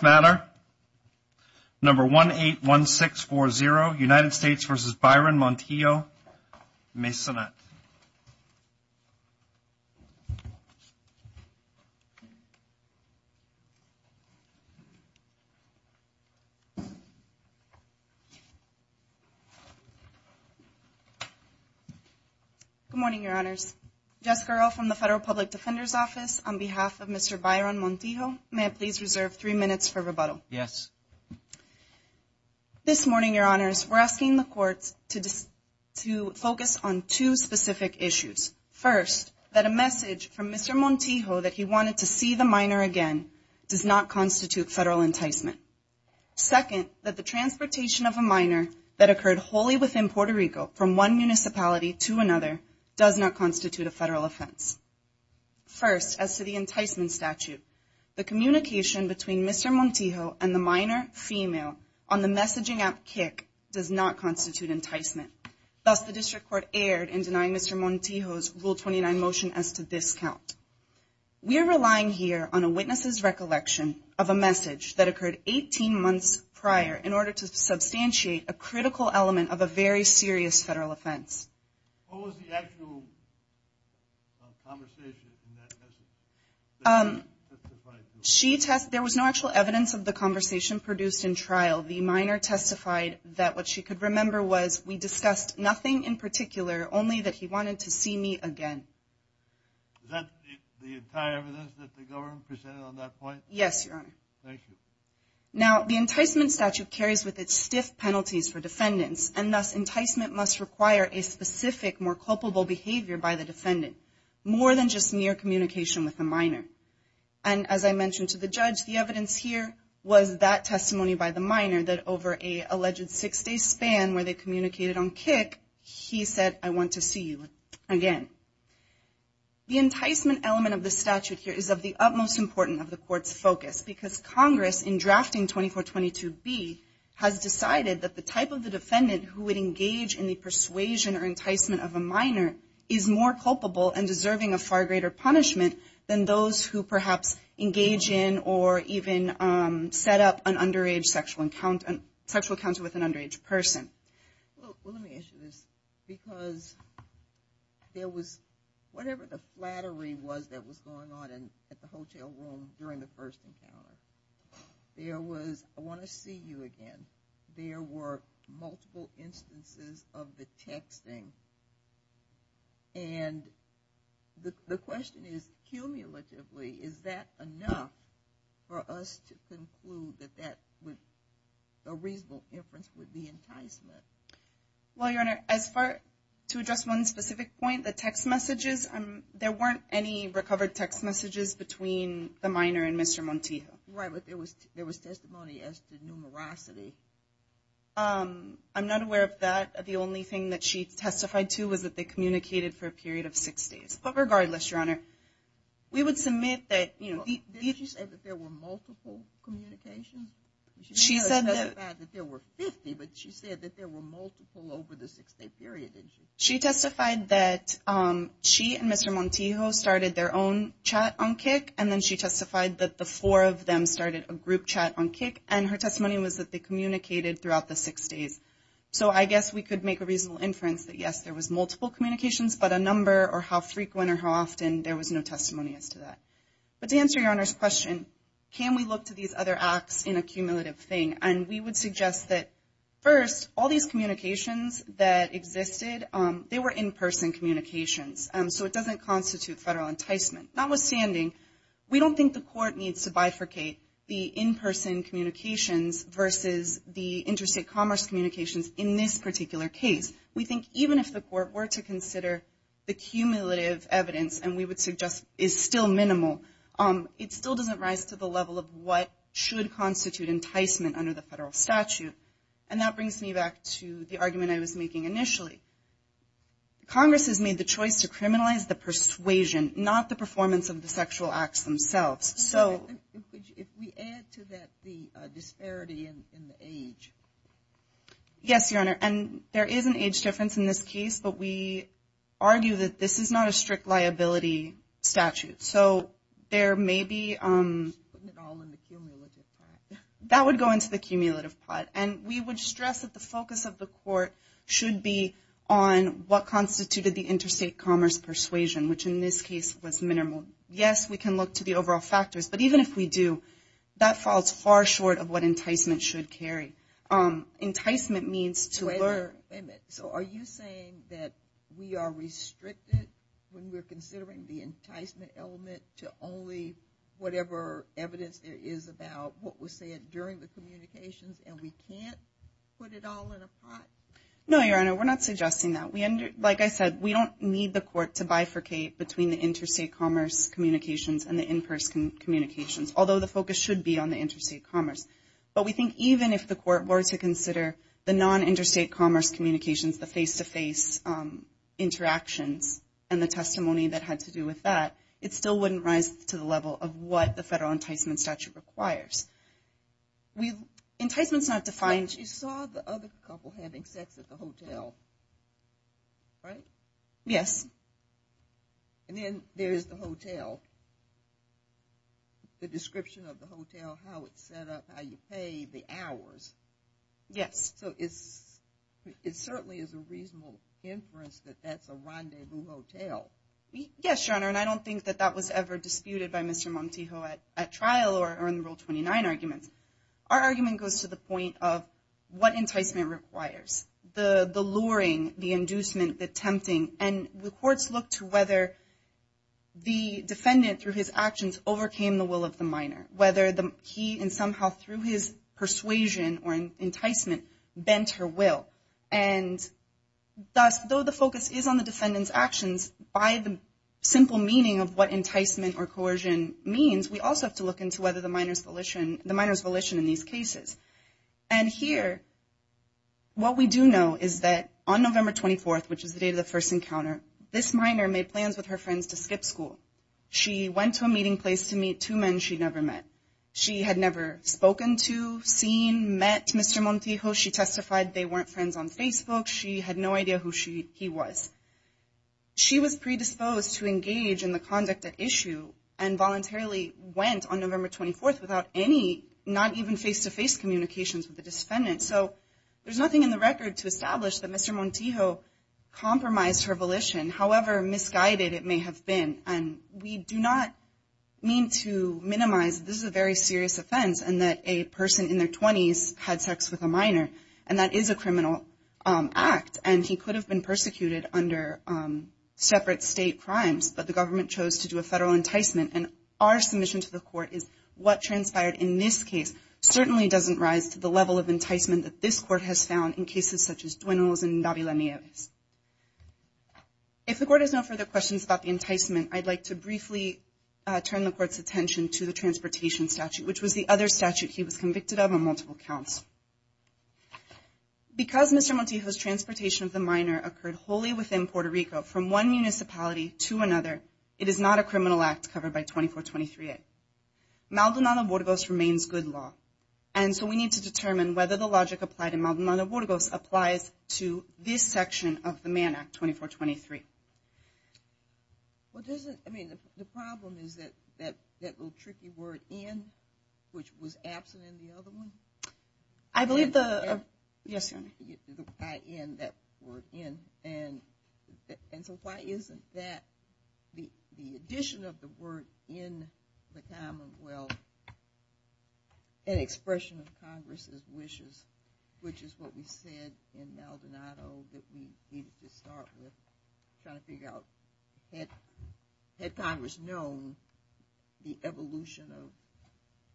Good morning, your honors. Jessica Earle from the Federal Public Defender's Office. On behalf of Mr. Byron Montijo, may I please reserve three minutes of your time to address the following witnesses. Yes. This morning, your honors, we're asking the courts to focus on two specific issues. First, that a message from Mr. Montijo that he wanted to see the minor again does not constitute federal enticement. Second, that the transportation of a minor that occurred wholly within Puerto Rico from one municipality to another does not constitute a federal offense. First, as to the enticement statute, the communication between Mr. Montijo and the minor female on the messaging app Kik does not constitute enticement. Thus, the district court erred in denying Mr. Montijo's Rule 29 motion as to this count. We are relying here on a witness's recollection of a message that occurred 18 months prior in order to substantiate a critical element of a very serious federal offense. What was the actual conversation in that message? There was no actual evidence of the conversation produced in trial. The minor testified that what she could remember was we discussed nothing in particular, only that he wanted to see me again. Is that the entire evidence that the government presented on that point? Yes, your honor. Thank you. Now, the enticement statute carries with it stiff penalties for defendants, and thus enticement must require a specific, more culpable behavior by the defendant, more than just mere communication with the minor. And as I mentioned to the judge, the evidence here was that testimony by the minor that over an alleged six-day span where they communicated on Kik, he said, I want to see you again. The enticement element of the statute here is of the utmost importance of the court's focus because Congress, in drafting 2422B, has decided that the type of the defendant who would engage in the persuasion or enticement of a minor is more culpable and deserving of far greater punishment than those who perhaps engage in or even set up an underage sexual encounter with an underage person. Well, let me ask you this. Because there was, whatever the flattery was that was going on at the hotel room during the first encounter, there was, I want to see you again. There were multiple instances of the texting. And the question is, cumulatively, is that enough for us to conclude that that would, a reasonable inference would be enticement? Well, Your Honor, as far, to address one specific point, the text messages, there weren't any recovered text messages between the minor and Mr. Montijo. Right, but there was testimony as to numerosity. I'm not aware of that. The only thing that she testified to was that they communicated for a period of six days. But regardless, Your Honor, we would submit that, you know, Didn't she say that there were multiple communications? She said that She said that there were 50, but she said that there were multiple over the six-day period, didn't she? She testified that she and Mr. Montijo started their own chat on Kik, and then she testified that the four of them started a group chat on Kik, and her testimony was that they communicated throughout the six days. So I guess we could make a reasonable inference that, yes, there was multiple communications, but a number or how frequent or how often, there was no testimony as to that. But to answer Your Honor's question, can we look to these other acts in a cumulative thing? And we would suggest that, first, all these communications that existed, they were in-person communications, so it doesn't constitute federal enticement. Notwithstanding, we don't think the court needs to bifurcate the in-person communications versus the interstate commerce communications in this particular case. We think even if the court were to consider the cumulative evidence, and we would suggest is still minimal, it still doesn't rise to the level of what should constitute enticement under the federal statute. And that brings me back to the argument I was making initially. Congress has made the choice to criminalize the persuasion, not the performance of the sexual acts themselves. If we add to that the disparity in the age. Yes, Your Honor, and there is an age difference in this case, but we argue that this is not a strict liability statute. So there may be... Putting it all in the cumulative pot. That would go into the cumulative pot. And we would stress that the focus of the court should be on what constituted the interstate commerce persuasion, which in this case was minimal. Yes, we can look to the overall factors, but even if we do, that falls far short of what enticement should carry. Enticement means to learn... to only whatever evidence there is about what was said during the communications, and we can't put it all in a pot? No, Your Honor, we're not suggesting that. Like I said, we don't need the court to bifurcate between the interstate commerce communications and the in-person communications, although the focus should be on the interstate commerce. But we think even if the court were to consider the non-interstate commerce communications, the face-to-face interactions, and the testimony that had to do with that, it still wouldn't rise to the level of what the federal enticement statute requires. Enticement's not defined... You saw the other couple having sex at the hotel, right? Yes. And then there is the hotel, the description of the hotel, how it's set up, how you pay, the hours. Yes. So it certainly is a reasonable inference that that's a rendezvous hotel. Yes, Your Honor, and I don't think that that was ever disputed by Mr. Montijo at trial or in the Rule 29 arguments. Our argument goes to the point of what enticement requires, the luring, the inducement, the tempting. And the courts look to whether the defendant, through his actions, overcame the will of the minor, whether he somehow, through his persuasion or enticement, bent her will. And thus, though the focus is on the defendant's actions, by the simple meaning of what enticement or coercion means, we also have to look into whether the minor's volition in these cases. And here, what we do know is that on November 24th, which is the day of the first encounter, this minor made plans with her friends to skip school. She went to a meeting place to meet two men she'd never met. She had never spoken to, seen, met Mr. Montijo. She testified they weren't friends on Facebook. She had no idea who he was. She was predisposed to engage in the conduct at issue and voluntarily went on November 24th without any, not even face-to-face communications with the defendant. So there's nothing in the record to establish that Mr. Montijo compromised her volition, however misguided it may have been. And we do not mean to minimize this is a very serious offense and that a person in their 20s had sex with a minor, and that is a criminal act. And he could have been persecuted under separate state crimes, but the government chose to do a federal enticement. And our submission to the court is what transpired in this case certainly doesn't rise to the level of enticement that this court has found in cases such as Duenos and Davila Nieves. If the court has no further questions about the enticement, I'd like to briefly turn the court's attention to the transportation statute, which was the other statute he was convicted of on multiple counts. Because Mr. Montijo's transportation of the minor occurred wholly within Puerto Rico, from one municipality to another, it is not a criminal act covered by 2423A. Maldonado-Burgos remains good law, and so we need to determine whether the logic applied in Maldonado-Burgos applies to this section of the Mann Act, 2423. Well, doesn't, I mean, the problem is that little tricky word in, which was absent in the other one? I believe the, yes, Your Honor. In, that word in, and so why isn't that the addition of the word in the commonwealth and expression of Congress's wishes, which is what we said in Maldonado that we needed to start with, trying to figure out, had Congress known the evolution of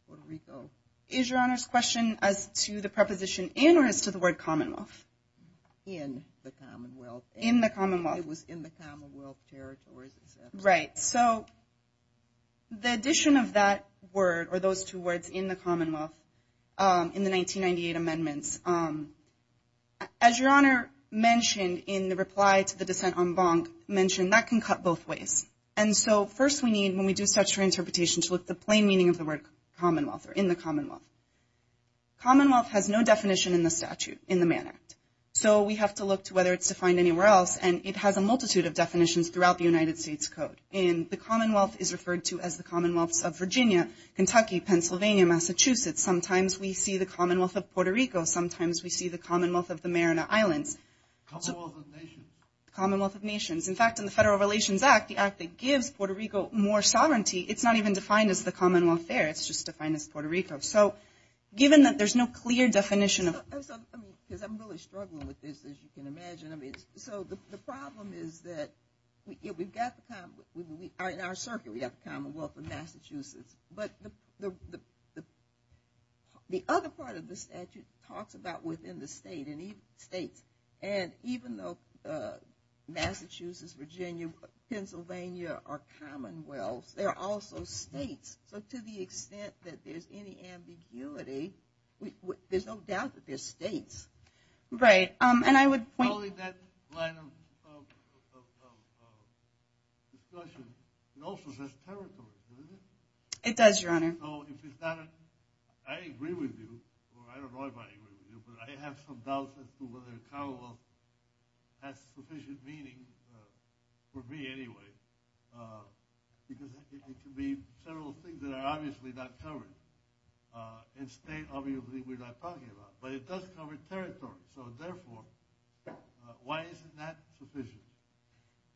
Puerto Rico? Is Your Honor's question as to the preposition in or as to the word commonwealth? In the commonwealth. In the commonwealth. It was in the commonwealth territories, it says. Right, so the addition of that word or those two words in the commonwealth in the 1998 amendments, as Your Honor mentioned in the reply to the dissent on Bonk, mentioned that can cut both ways. And so first we need, when we do statutory interpretation, to look at the plain meaning of the word commonwealth or in the commonwealth. Commonwealth has no definition in the statute, in the Mann Act, so we have to look to whether it's defined anywhere else, and it has a multitude of definitions throughout the United States Code. And the commonwealth is referred to as the commonwealths of Virginia, Kentucky, Pennsylvania, Massachusetts. Sometimes we see the commonwealth of Puerto Rico. Sometimes we see the commonwealth of the Mariana Islands. Commonwealth of nations. Commonwealth of nations. In fact, in the Federal Relations Act, the act that gives Puerto Rico more sovereignty, it's not even defined as the commonwealth there. It's just defined as Puerto Rico. So given that there's no clear definition of it. Because I'm really struggling with this, as you can imagine. So the problem is that we've got the commonwealth. In our circuit, we have the commonwealth of Massachusetts. But the other part of the statute talks about within the state and states. And even though Massachusetts, Virginia, Pennsylvania are commonwealths, they're also states. So to the extent that there's any ambiguity, there's no doubt that they're states. Right. And I would point. Following that line of discussion, it also says territories, doesn't it? It does, Your Honor. So if it's not a ‑‑ I agree with you, or I don't know if I agree with you, but I have some doubts as to whether commonwealth has sufficient meaning for me anyway. Because it could be several things that are obviously not covered. In state, obviously, we're not talking about. But it does cover territory. So, therefore, why isn't that sufficient?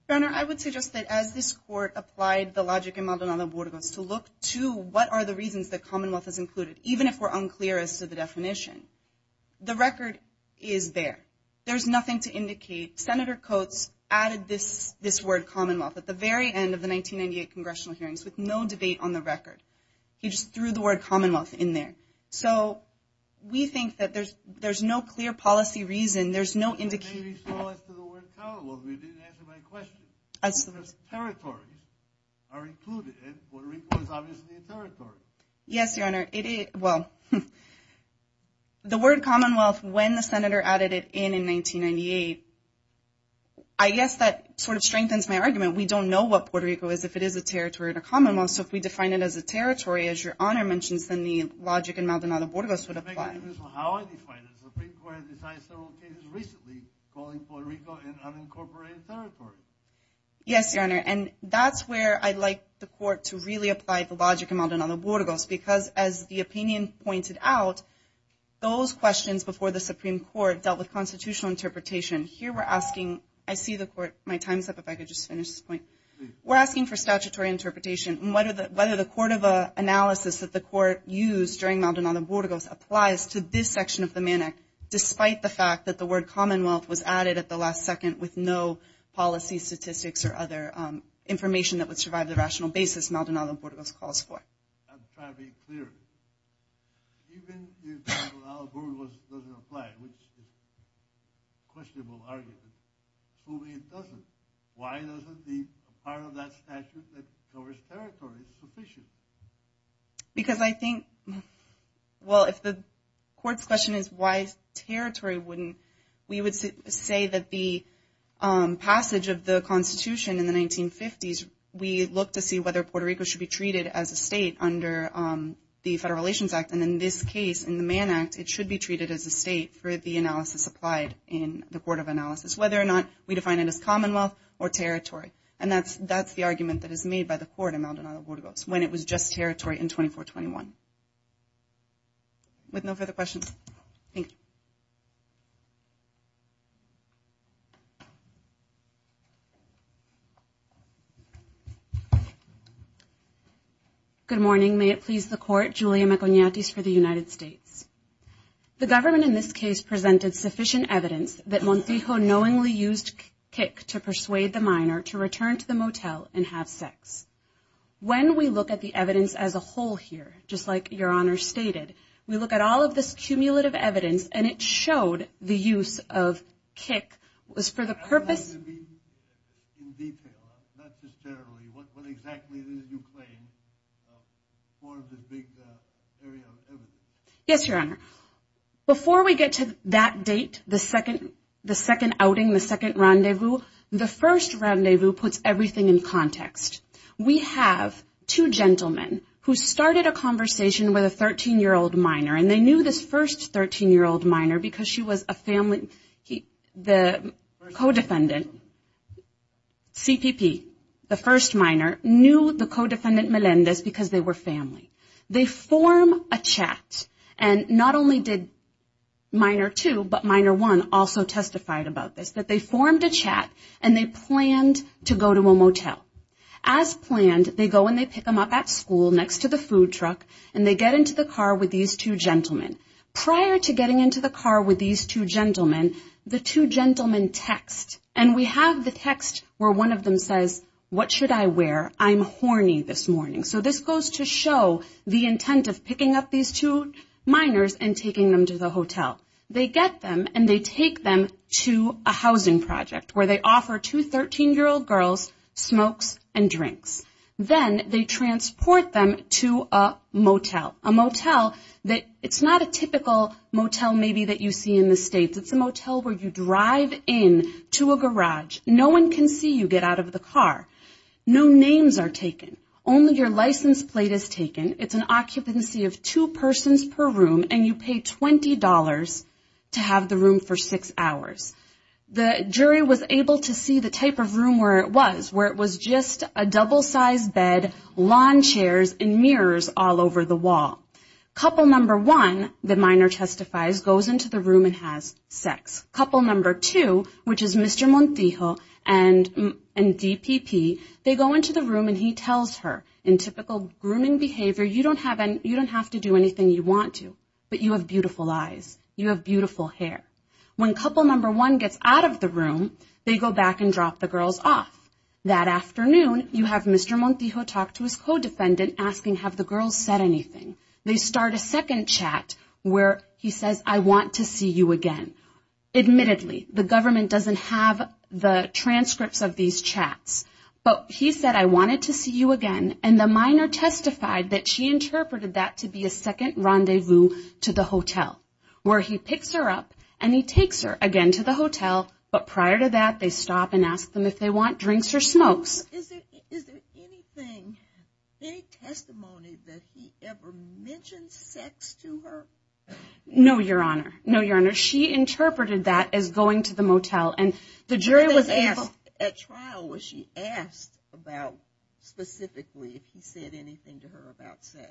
Your Honor, I would suggest that as this court applied the logic in Maldonado-Burgos to look to what are the reasons that commonwealth is included, even if we're unclear as to the definition. The record is there. There's nothing to indicate. Senator Coats added this word, commonwealth, at the very end of the 1998 congressional hearings with no debate on the record. He just threw the word commonwealth in there. So, we think that there's no clear policy reason. There's no indication. Maybe so as to the word commonwealth, but you didn't answer my question. Territories are included, and Puerto Rico is obviously a territory. Yes, Your Honor. It is. Well, the word commonwealth, when the Senator added it in in 1998, I guess that sort of strengthens my argument. We don't know what Puerto Rico is if it is a territory or a commonwealth. So if we define it as a territory, as Your Honor mentions, then the logic in Maldonado-Burgos would apply. How I define it is the Supreme Court has decided several cases recently calling Puerto Rico an unincorporated territory. Yes, Your Honor, and that's where I'd like the court to really apply the logic in Maldonado-Burgos because, as the opinion pointed out, those questions before the Supreme Court dealt with constitutional interpretation. Here we're asking, I see the court, my time's up, if I could just finish this point. We're asking for statutory interpretation. Whether the court of analysis that the court used during Maldonado-Burgos applies to this section of the Mann Act, despite the fact that the word commonwealth was added at the last second with no policy statistics or other information that would survive the rational basis Maldonado-Burgos calls for. I'm trying to be clear. Even if Maldonado-Burgos doesn't apply, which is a questionable argument, assuming it doesn't, why doesn't the part of that statute that covers territory sufficient? Because I think, well, if the court's question is why territory wouldn't, we would say that the passage of the Constitution in the 1950s, we look to see whether Puerto Rico should be treated as a state under the Federal Relations Act. And in this case, in the Mann Act, it should be treated as a state for the analysis applied in the court of analysis, whether or not we define it as commonwealth or territory. And that's the argument that is made by the court in Maldonado-Burgos, when it was just territory in 2421. With no further questions, thank you. Good morning. May it please the court, Julia Maconiatis for the United States. The government in this case presented sufficient evidence that Montijo knowingly used kick to persuade the minor to return to the motel and have sex. When we look at the evidence as a whole here, just like Your Honor stated, we look at all of this cumulative evidence, and it showed the use of kick was for the purpose. In detail, not just territory. What exactly did you claim forms a big area of evidence? Yes, Your Honor. Before we get to that date, the second outing, the second rendezvous, the first rendezvous puts everything in context. We have two gentlemen who started a conversation with a 13-year-old minor, and they knew this first 13-year-old minor because she was a family. The co-defendant, CPP, the first minor, knew the co-defendant Melendez because they were family. They form a chat, and not only did minor two but minor one also testified about this, that they formed a chat and they planned to go to a motel. As planned, they go and they pick them up at school next to the food truck, and they get into the car with these two gentlemen. Prior to getting into the car with these two gentlemen, the two gentlemen text, and we have the text where one of them says, What should I wear? I'm horny this morning. So this goes to show the intent of picking up these two minors and taking them to the hotel. They get them, and they take them to a housing project where they offer two 13-year-old girls smokes and drinks. Then they transport them to a motel, a motel that it's not a typical motel maybe that you see in the States. It's a motel where you drive in to a garage. No one can see you get out of the car. No names are taken. Only your license plate is taken. It's an occupancy of two persons per room, and you pay $20 to have the room for six hours. The jury was able to see the type of room where it was, where it was just a double-sized bed, lawn chairs, and mirrors all over the wall. Couple number one, the minor testifies, goes into the room and has sex. Couple number two, which is Mr. Montijo and DPP, they go into the room and he tells her, in typical grooming behavior, you don't have to do anything you want to, but you have beautiful eyes. You have beautiful hair. When couple number one gets out of the room, they go back and drop the girls off. That afternoon, you have Mr. Montijo talk to his co-defendant asking, have the girls said anything? They start a second chat where he says, I want to see you again. Admittedly, the government doesn't have the transcripts of these chats, but he said, I wanted to see you again, and the minor testified that she interpreted that to be a second rendezvous to the hotel, but prior to that, they stop and ask them if they want drinks or smokes. Is there anything, any testimony that he ever mentioned sex to her? No, Your Honor. No, Your Honor. She interpreted that as going to the motel, and the jury was able to ask. At trial, was she asked about specifically if he said anything to her about sex?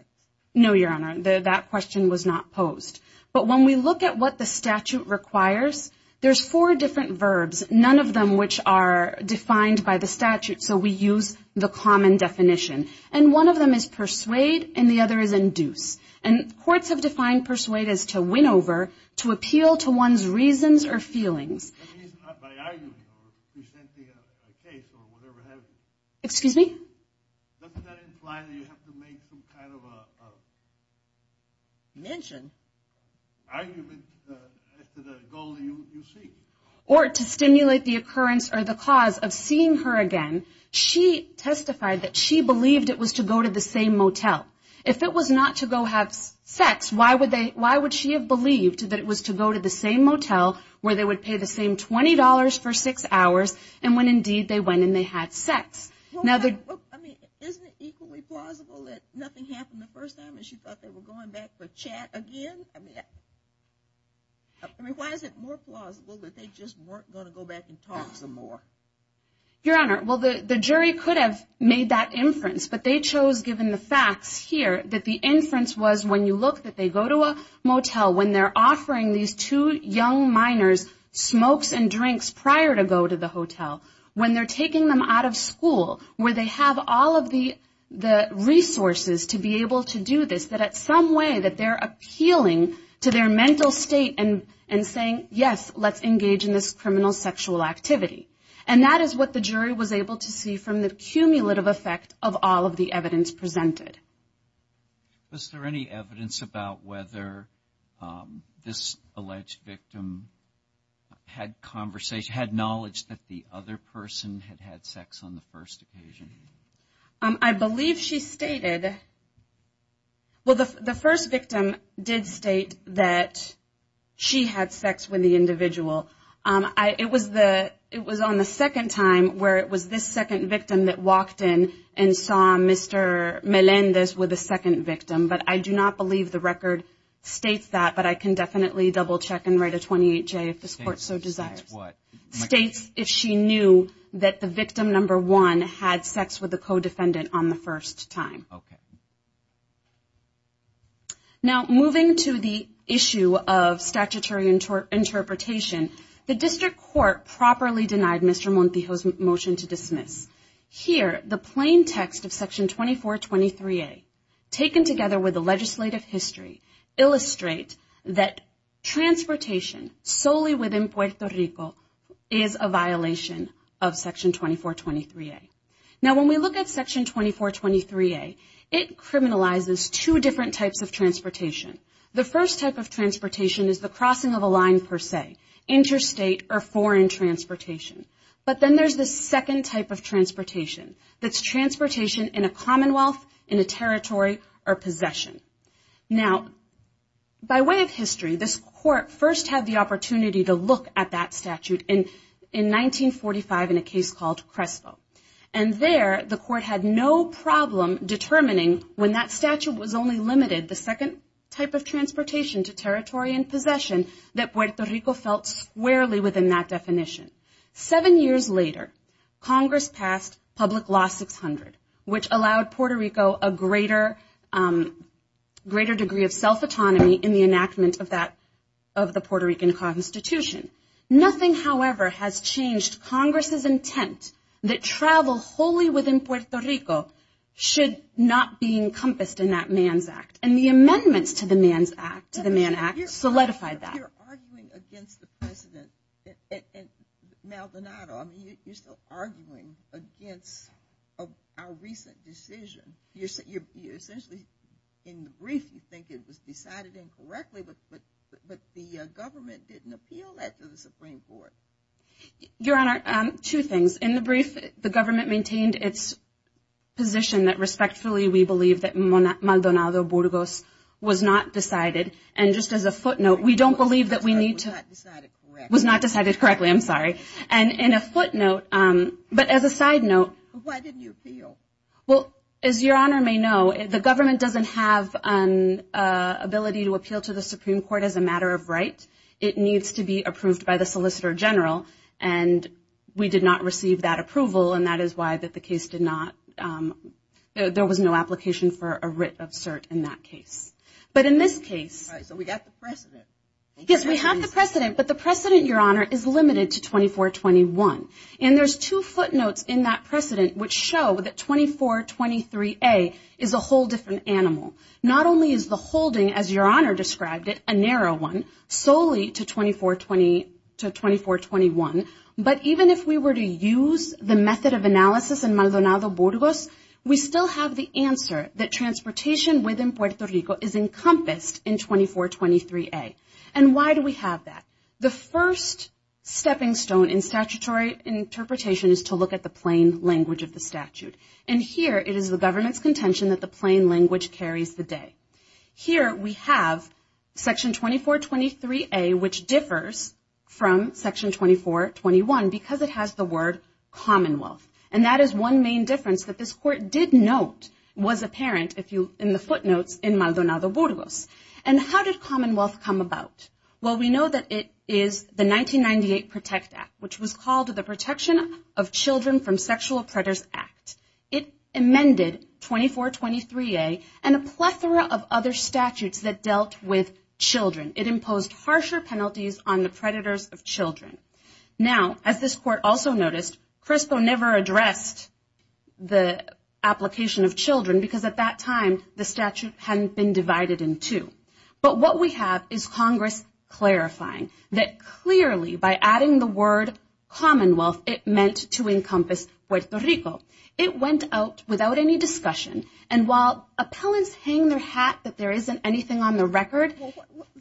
No, Your Honor. That question was not posed, but when we look at what the statute requires, there's four different verbs, none of them which are defined by the statute, so we use the common definition. And one of them is persuade, and the other is induce. And courts have defined persuade as to win over, to appeal to one's reasons or feelings. By arguing or presenting a case or whatever it is. Excuse me? Doesn't that imply that you have to make some kind of a mention? Argument as to the goal you seek. Or to stimulate the occurrence or the cause of seeing her again. She testified that she believed it was to go to the same motel. If it was not to go have sex, why would she have believed that it was to go to the same motel where they would pay the same $20 for six hours, and when, indeed, they went and they had sex? I mean, isn't it equally plausible that nothing happened the first time, and she thought they were going back for chat again? I mean, why is it more plausible that they just weren't going to go back and talk some more? Your Honor, well, the jury could have made that inference, but they chose, given the facts here, that the inference was when you look, that they go to a motel when they're offering these two young minors smokes and drinks prior to go to the hotel. When they're taking them out of school, where they have all of the resources to be able to do this, that at some way that they're appealing to their mental state and saying, yes, let's engage in this criminal sexual activity. And that is what the jury was able to see from the cumulative effect of all of the evidence presented. Was there any evidence about whether this alleged victim had conversation, had knowledge that the other person had had sex on the first occasion? I believe she stated, well, the first victim did state that she had sex with the individual. It was on the second time where it was this second victim that walked in and saw Mr. Melendez with the second victim. But I do not believe the record states that. But I can definitely double check and write a 28-J if this Court so desires. States what? States if she knew that the victim, number one, had sex with the co-defendant on the first time. Okay. Now, moving to the issue of statutory interpretation, the District Court properly denied Mr. Montijo's motion to dismiss. Here, the plain text of Section 2423A, taken together with the legislative history, illustrate that transportation solely within Puerto Rico is a violation of Section 2423A. Now, when we look at Section 2423A, it criminalizes two different types of transportation. The first type of transportation is the crossing of a line per se, interstate or foreign transportation. But then there's the second type of transportation. That's transportation in a commonwealth, in a territory, or possession. Now, by way of history, this Court first had the opportunity to look at that statute in 1945 in a case called Crespo. And there, the Court had no problem determining when that statute was only limited, the second type of transportation to territory and possession, that Puerto Rico felt squarely within that definition. Seven years later, Congress passed Public Law 600, which allowed Puerto Rico a greater degree of self-autonomy in the enactment of the Puerto Rican Constitution. Nothing, however, has changed Congress's intent that travel wholly within Puerto Rico should not be encompassed in that Mann's Act. And the amendments to the Mann's Act, to the Mann Act, solidified that. You're arguing against the President and Maldonado. I mean, you're still arguing against our recent decision. Essentially, in the brief, you think it was decided incorrectly, but the government didn't appeal that to the Supreme Court. Your Honor, two things. In the brief, the government maintained its position that respectfully we believe that Maldonado Burgos was not decided. And just as a footnote, we don't believe that we need to- Was not decided correctly. Was not decided correctly, I'm sorry. And in a footnote, but as a side note- Why didn't you appeal? Well, as Your Honor may know, the government doesn't have an ability to appeal to the Supreme Court as a matter of right. It needs to be approved by the Solicitor General, and we did not receive that approval, and that is why that the case did not- there was no application for a writ of cert in that case. But in this case- All right, so we got the precedent. Yes, we have the precedent, but the precedent, Your Honor, is limited to 2421. And there's two footnotes in that precedent which show that 2423A is a whole different animal. Not only is the holding, as Your Honor described it, a narrow one solely to 2421, but even if we were to use the method of analysis in Maldonado Burgos, we still have the answer that transportation within Puerto Rico is encompassed in 2423A. And why do we have that? The first stepping stone in statutory interpretation is to look at the plain language of the statute. And here it is the government's contention that the plain language carries the day. Here we have Section 2423A, which differs from Section 2421 because it has the word commonwealth. And that is one main difference that this Court did note was apparent in the footnotes in Maldonado Burgos. And how did commonwealth come about? Well, we know that it is the 1998 PROTECT Act, which was called the Protection of Children from Sexual Predators Act. It amended 2423A and a plethora of other statutes that dealt with children. It imposed harsher penalties on the predators of children. Now, as this Court also noticed, CRISPO never addressed the application of children because at that time the statute hadn't been divided in two. But what we have is Congress clarifying that clearly by adding the word commonwealth, it meant to encompass Puerto Rico. It went out without any discussion. And while appellants hang their hat that there isn't anything on the record. Well,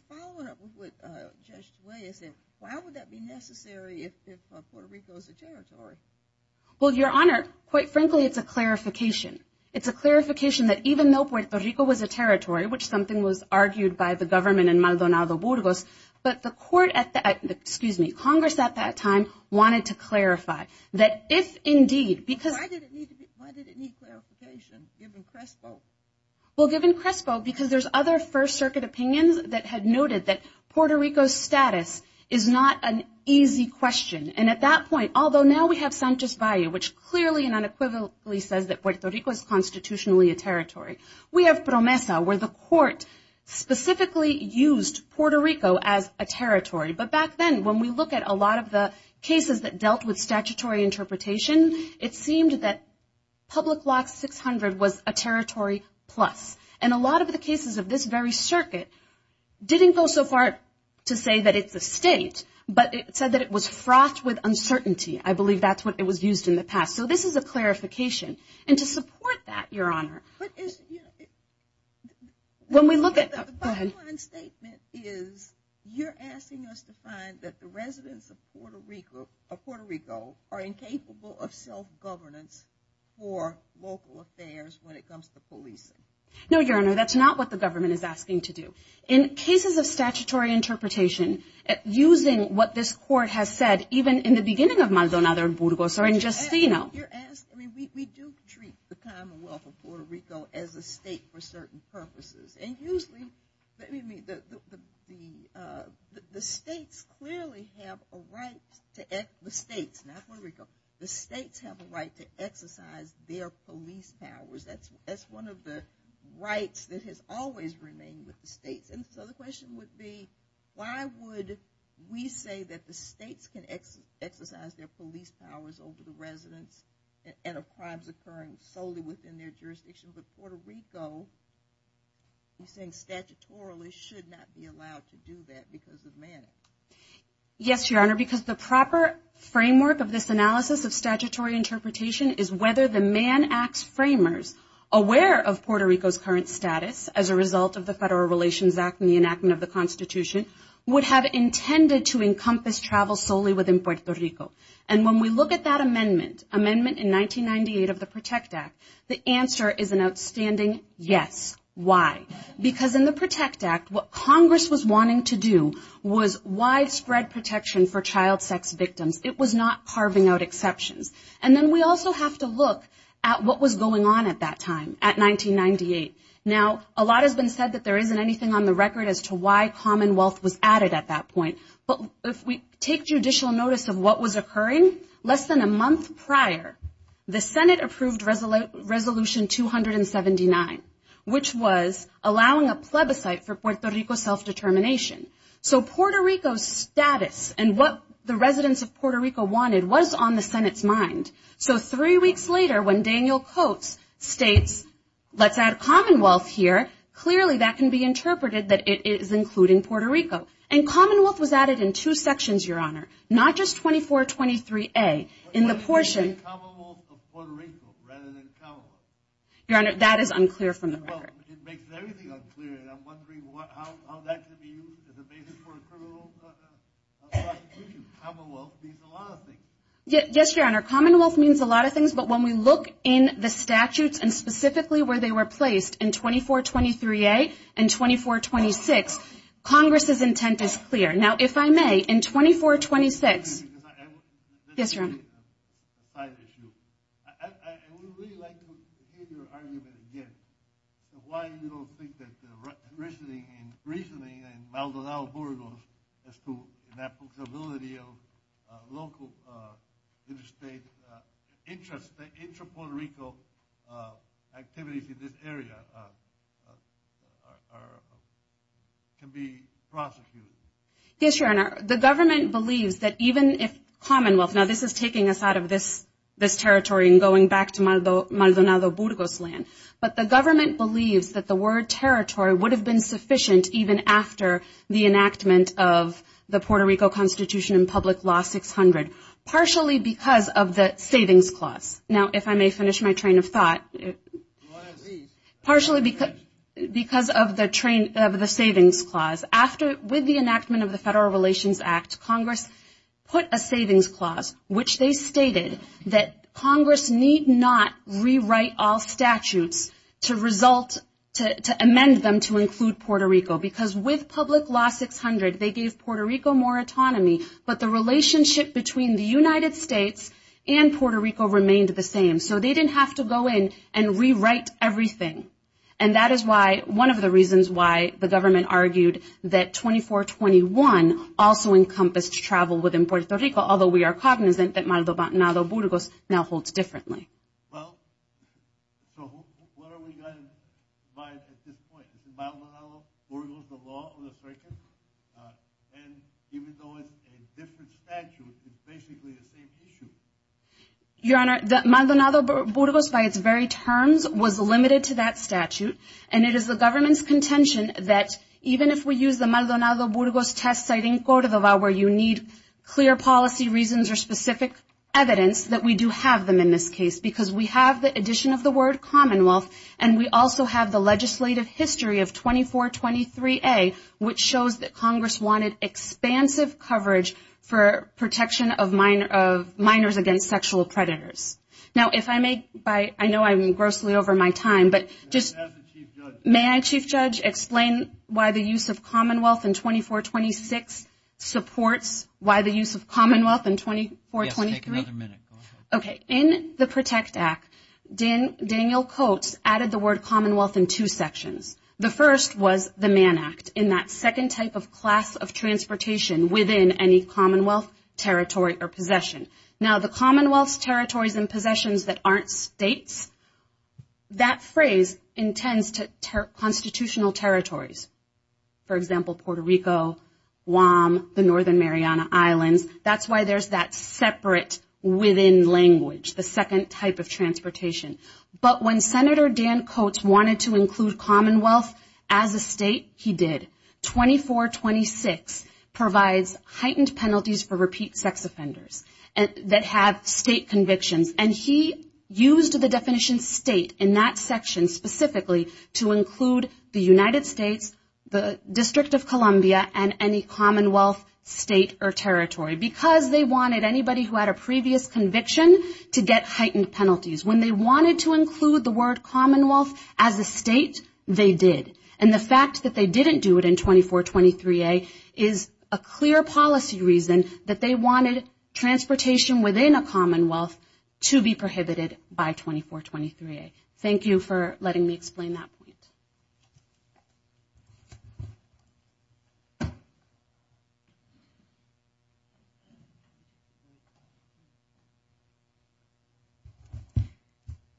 following up with Judge DeWay, why would that be necessary if Puerto Rico is a territory? Well, Your Honor, quite frankly, it's a clarification. It's a clarification that even though Puerto Rico was a territory, which something was argued by the government in Maldonado Burgos, but Congress at that time wanted to clarify that if indeed because- Why did it need clarification given CRISPO? Well, given CRISPO, because there's other First Circuit opinions that had noted that Puerto Rico's status is not an easy question. And at that point, although now we have Sanchez Valle, which clearly and unequivocally says that Puerto Rico is constitutionally a territory, we have PROMESA, where the Court specifically used Puerto Rico as a territory. But back then, when we look at a lot of the cases that dealt with statutory interpretation, it seemed that Public Law 600 was a territory plus. And a lot of the cases of this very circuit didn't go so far to say that it's a state, but it said that it was frothed with uncertainty. I believe that's what it was used in the past. So this is a clarification. And to support that, Your Honor, when we look at- The bottom line statement is you're asking us to find that the residents of Puerto Rico are incapable of self-governance for local affairs when it comes to policing. No, Your Honor, that's not what the government is asking to do. In cases of statutory interpretation, using what this Court has said, even in the beginning of Maldonado and Burgos, or in Justino- You're asking- We do treat the Commonwealth of Puerto Rico as a state for certain purposes. And usually- The states clearly have a right to- The states, not Puerto Rico. The states have a right to exercise their police powers. That's one of the rights that has always remained with the states. And so the question would be, why would we say that the states can exercise their police powers over the residents and of crimes occurring solely within their jurisdiction, but Puerto Rico is saying statutorily should not be allowed to do that because of man. Yes, Your Honor, because the proper framework of this analysis of statutory interpretation is whether the Man Acts framers, aware of Puerto Rico's current status as a result of the Federal Relations Act and the enactment of the Constitution, would have intended to encompass travel solely within Puerto Rico. And when we look at that amendment, amendment in 1998 of the PROTECT Act, the answer is an outstanding yes. Why? Because in the PROTECT Act, what Congress was wanting to do was widespread protection for child sex victims. It was not carving out exceptions. And then we also have to look at what was going on at that time, at 1998. Now, a lot has been said that there isn't anything on the record as to why Commonwealth was added at that point. But if we take judicial notice of what was occurring, less than a month prior the Senate approved Resolution 279, which was allowing a plebiscite for Puerto Rico self-determination. So Puerto Rico's status and what the residents of Puerto Rico wanted was on the Senate's mind. So three weeks later, when Daniel Coats states, let's add Commonwealth here, clearly that can be interpreted that it is including Puerto Rico. And Commonwealth was added in two sections, Your Honor, not just 2423A. In the portion... But why is it Commonwealth of Puerto Rico rather than Commonwealth? Your Honor, that is unclear from the record. Well, it makes everything unclear. And I'm wondering how that can be used as a basis for a criminal prosecution. Commonwealth means a lot of things. Yes, Your Honor, Commonwealth means a lot of things. But when we look in the statutes and specifically where they were placed, in 2423A and 2426, Congress's intent is clear. Now, if I may, in 2426... Yes, Your Honor. ...a side issue. I would really like to hear your argument again of why you don't think that the reasoning in Maldonado-Burgos as to the flexibility of local interstate interests, the intra-Puerto Rico activities in this area can be prosecuted. Yes, Your Honor. The government believes that even if Commonwealth... You're taking us out of this territory and going back to Maldonado-Burgos land. But the government believes that the word territory would have been sufficient even after the enactment of the Puerto Rico Constitution and Public Law 600, partially because of the Savings Clause. Now, if I may finish my train of thought. Why is this? Partially because of the Savings Clause. With the enactment of the Federal Relations Act, Congress put a Savings Clause, which they stated that Congress need not rewrite all statutes to amend them to include Puerto Rico, because with Public Law 600, they gave Puerto Rico more autonomy, but the relationship between the United States and Puerto Rico remained the same. So they didn't have to go in and rewrite everything. And that is one of the reasons why the government argued that 2421 also encompassed travel within Puerto Rico, although we are cognizant that Maldonado-Burgos now holds differently. Well, so what are we going by at this point? Is Maldonado-Burgos the law of the circuit? And even though it's a different statute, it's basically the same issue. Your Honor, Maldonado-Burgos by its very terms was limited to that statute, and it is the government's contention that even if we use the Maldonado-Burgos test-citing code of the law where you need clear policy reasons or specific evidence, that we do have them in this case, because we have the addition of the word Commonwealth, and we also have the legislative history of 2423A, which shows that Congress wanted expansive coverage for protection of minors against sexual predators. Now, if I may, I know I'm grossly over my time, but just may I, Chief Judge, explain why the use of Commonwealth in 2426 supports why the use of Commonwealth in 2423? Yes, take another minute. Okay. In the PROTECT Act, Daniel Coates added the word Commonwealth in two sections. The first was the Mann Act, in that second type of class of transportation within any Commonwealth territory or possession. Now, the Commonwealth's territories and possessions that aren't states, that phrase intends to constitutional territories. For example, Puerto Rico, Guam, the Northern Mariana Islands. That's why there's that separate within language, the second type of transportation. But when Senator Dan Coates wanted to include Commonwealth as a state, he did. 2426 provides heightened penalties for repeat sex offenders that have state convictions, and he used the definition state in that section specifically to include the United States, the District of Columbia, and any Commonwealth state or territory, because they wanted anybody who had a previous conviction to get heightened penalties. When they wanted to include the word Commonwealth as a state, they did. And the fact that they didn't do it in 2423A is a clear policy reason that they wanted transportation within a Commonwealth to be prohibited by 2423A. Thank you for letting me explain that point.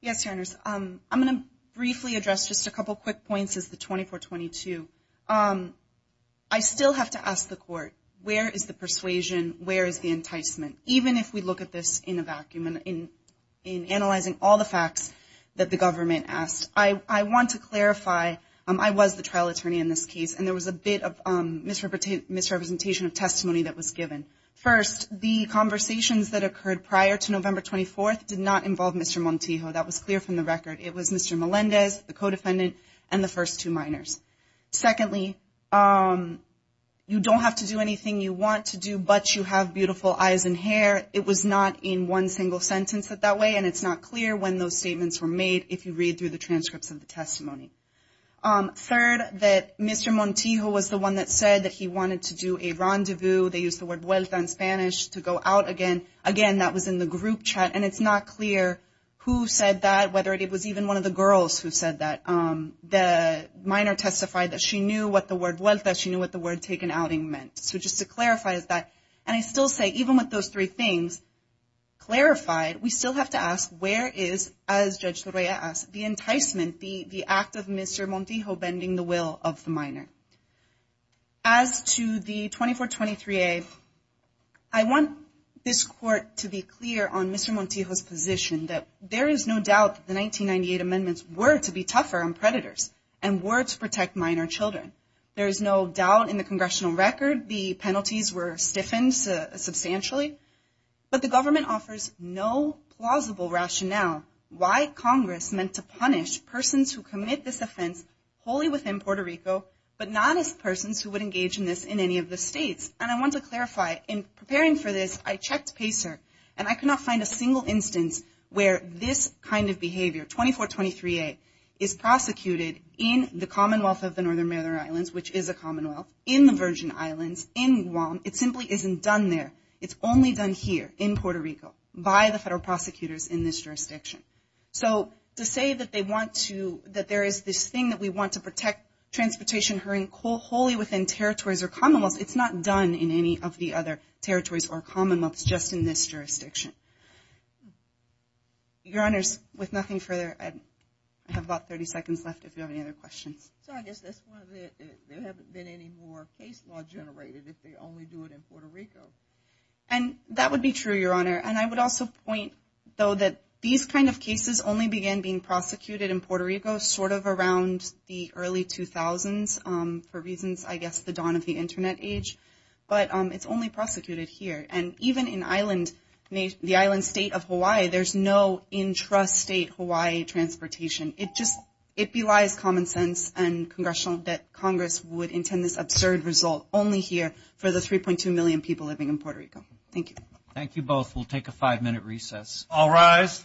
Yes, Janice. I'm going to briefly address just a couple quick points as to 2422. I still have to ask the court, where is the persuasion? Where is the enticement? Even if we look at this in a vacuum, in analyzing all the facts that the government asked, I want to clarify, I was the trial attorney in this case, and there was a bit of misrepresentation of testimony that was given. First, the conversations that occurred prior to November 24th did not involve Mr. Montijo. That was clear from the record. It was Mr. Melendez, the co-defendant, and the first two minors. Secondly, you don't have to do anything you want to do, but you have beautiful eyes and hair. It was not in one single sentence that that way, and it's not clear when those statements were made, if you read through the transcripts of the testimony. Third, that Mr. Montijo was the one that said that he wanted to do a rendezvous. They used the word vuelta in Spanish, to go out again. Again, that was in the group chat, and it's not clear who said that, whether it was even one of the girls who said that. The minor testified that she knew what the word vuelta, she knew what the word taken outing meant. So just to clarify that, and I still say, even with those three things clarified, we still have to ask, where is, as Judge Torreya asked, the enticement, the act of Mr. Montijo bending the will of the minor? As to the 2423A, I want this court to be clear on Mr. Montijo's position, that there is no doubt that the 1998 amendments were to be tougher on predators, and were to protect minor children. There is no doubt in the congressional record the penalties were stiffened substantially, but the government offers no plausible rationale why Congress meant to punish persons who commit this offense wholly within Puerto Rico, but not as persons who would engage in this in any of the states. And I want to clarify, in preparing for this, I checked PACER, and I could not find a single instance where this kind of behavior, 2423A, is prosecuted in the Commonwealth of the Northern Maryland Islands, which is a commonwealth, in the Virgin Islands, in Guam. It simply isn't done there. It's only done here in Puerto Rico by the federal prosecutors in this jurisdiction. So to say that they want to, that there is this thing that we want to protect transportation wholly within territories or commonwealths, it's not done in any of the other territories or commonwealths just in this jurisdiction. Your Honors, with nothing further, I have about 30 seconds left if you have any other questions. So I guess that's one of the, there haven't been any more case law generated if they only do it in Puerto Rico. And that would be true, Your Honor. And I would also point, though, that these kind of cases only began being prosecuted in Puerto Rico sort of around the early 2000s for reasons, I guess, the dawn of the Internet age. But it's only prosecuted here. And even in the island state of Hawaii, there's no intrastate Hawaii transportation. It just, it belies common sense and congressional, that Congress would intend this absurd result only here for the 3.2 million people living in Puerto Rico. Thank you. Thank you both. We'll take a five-minute recess. All rise. Thank you.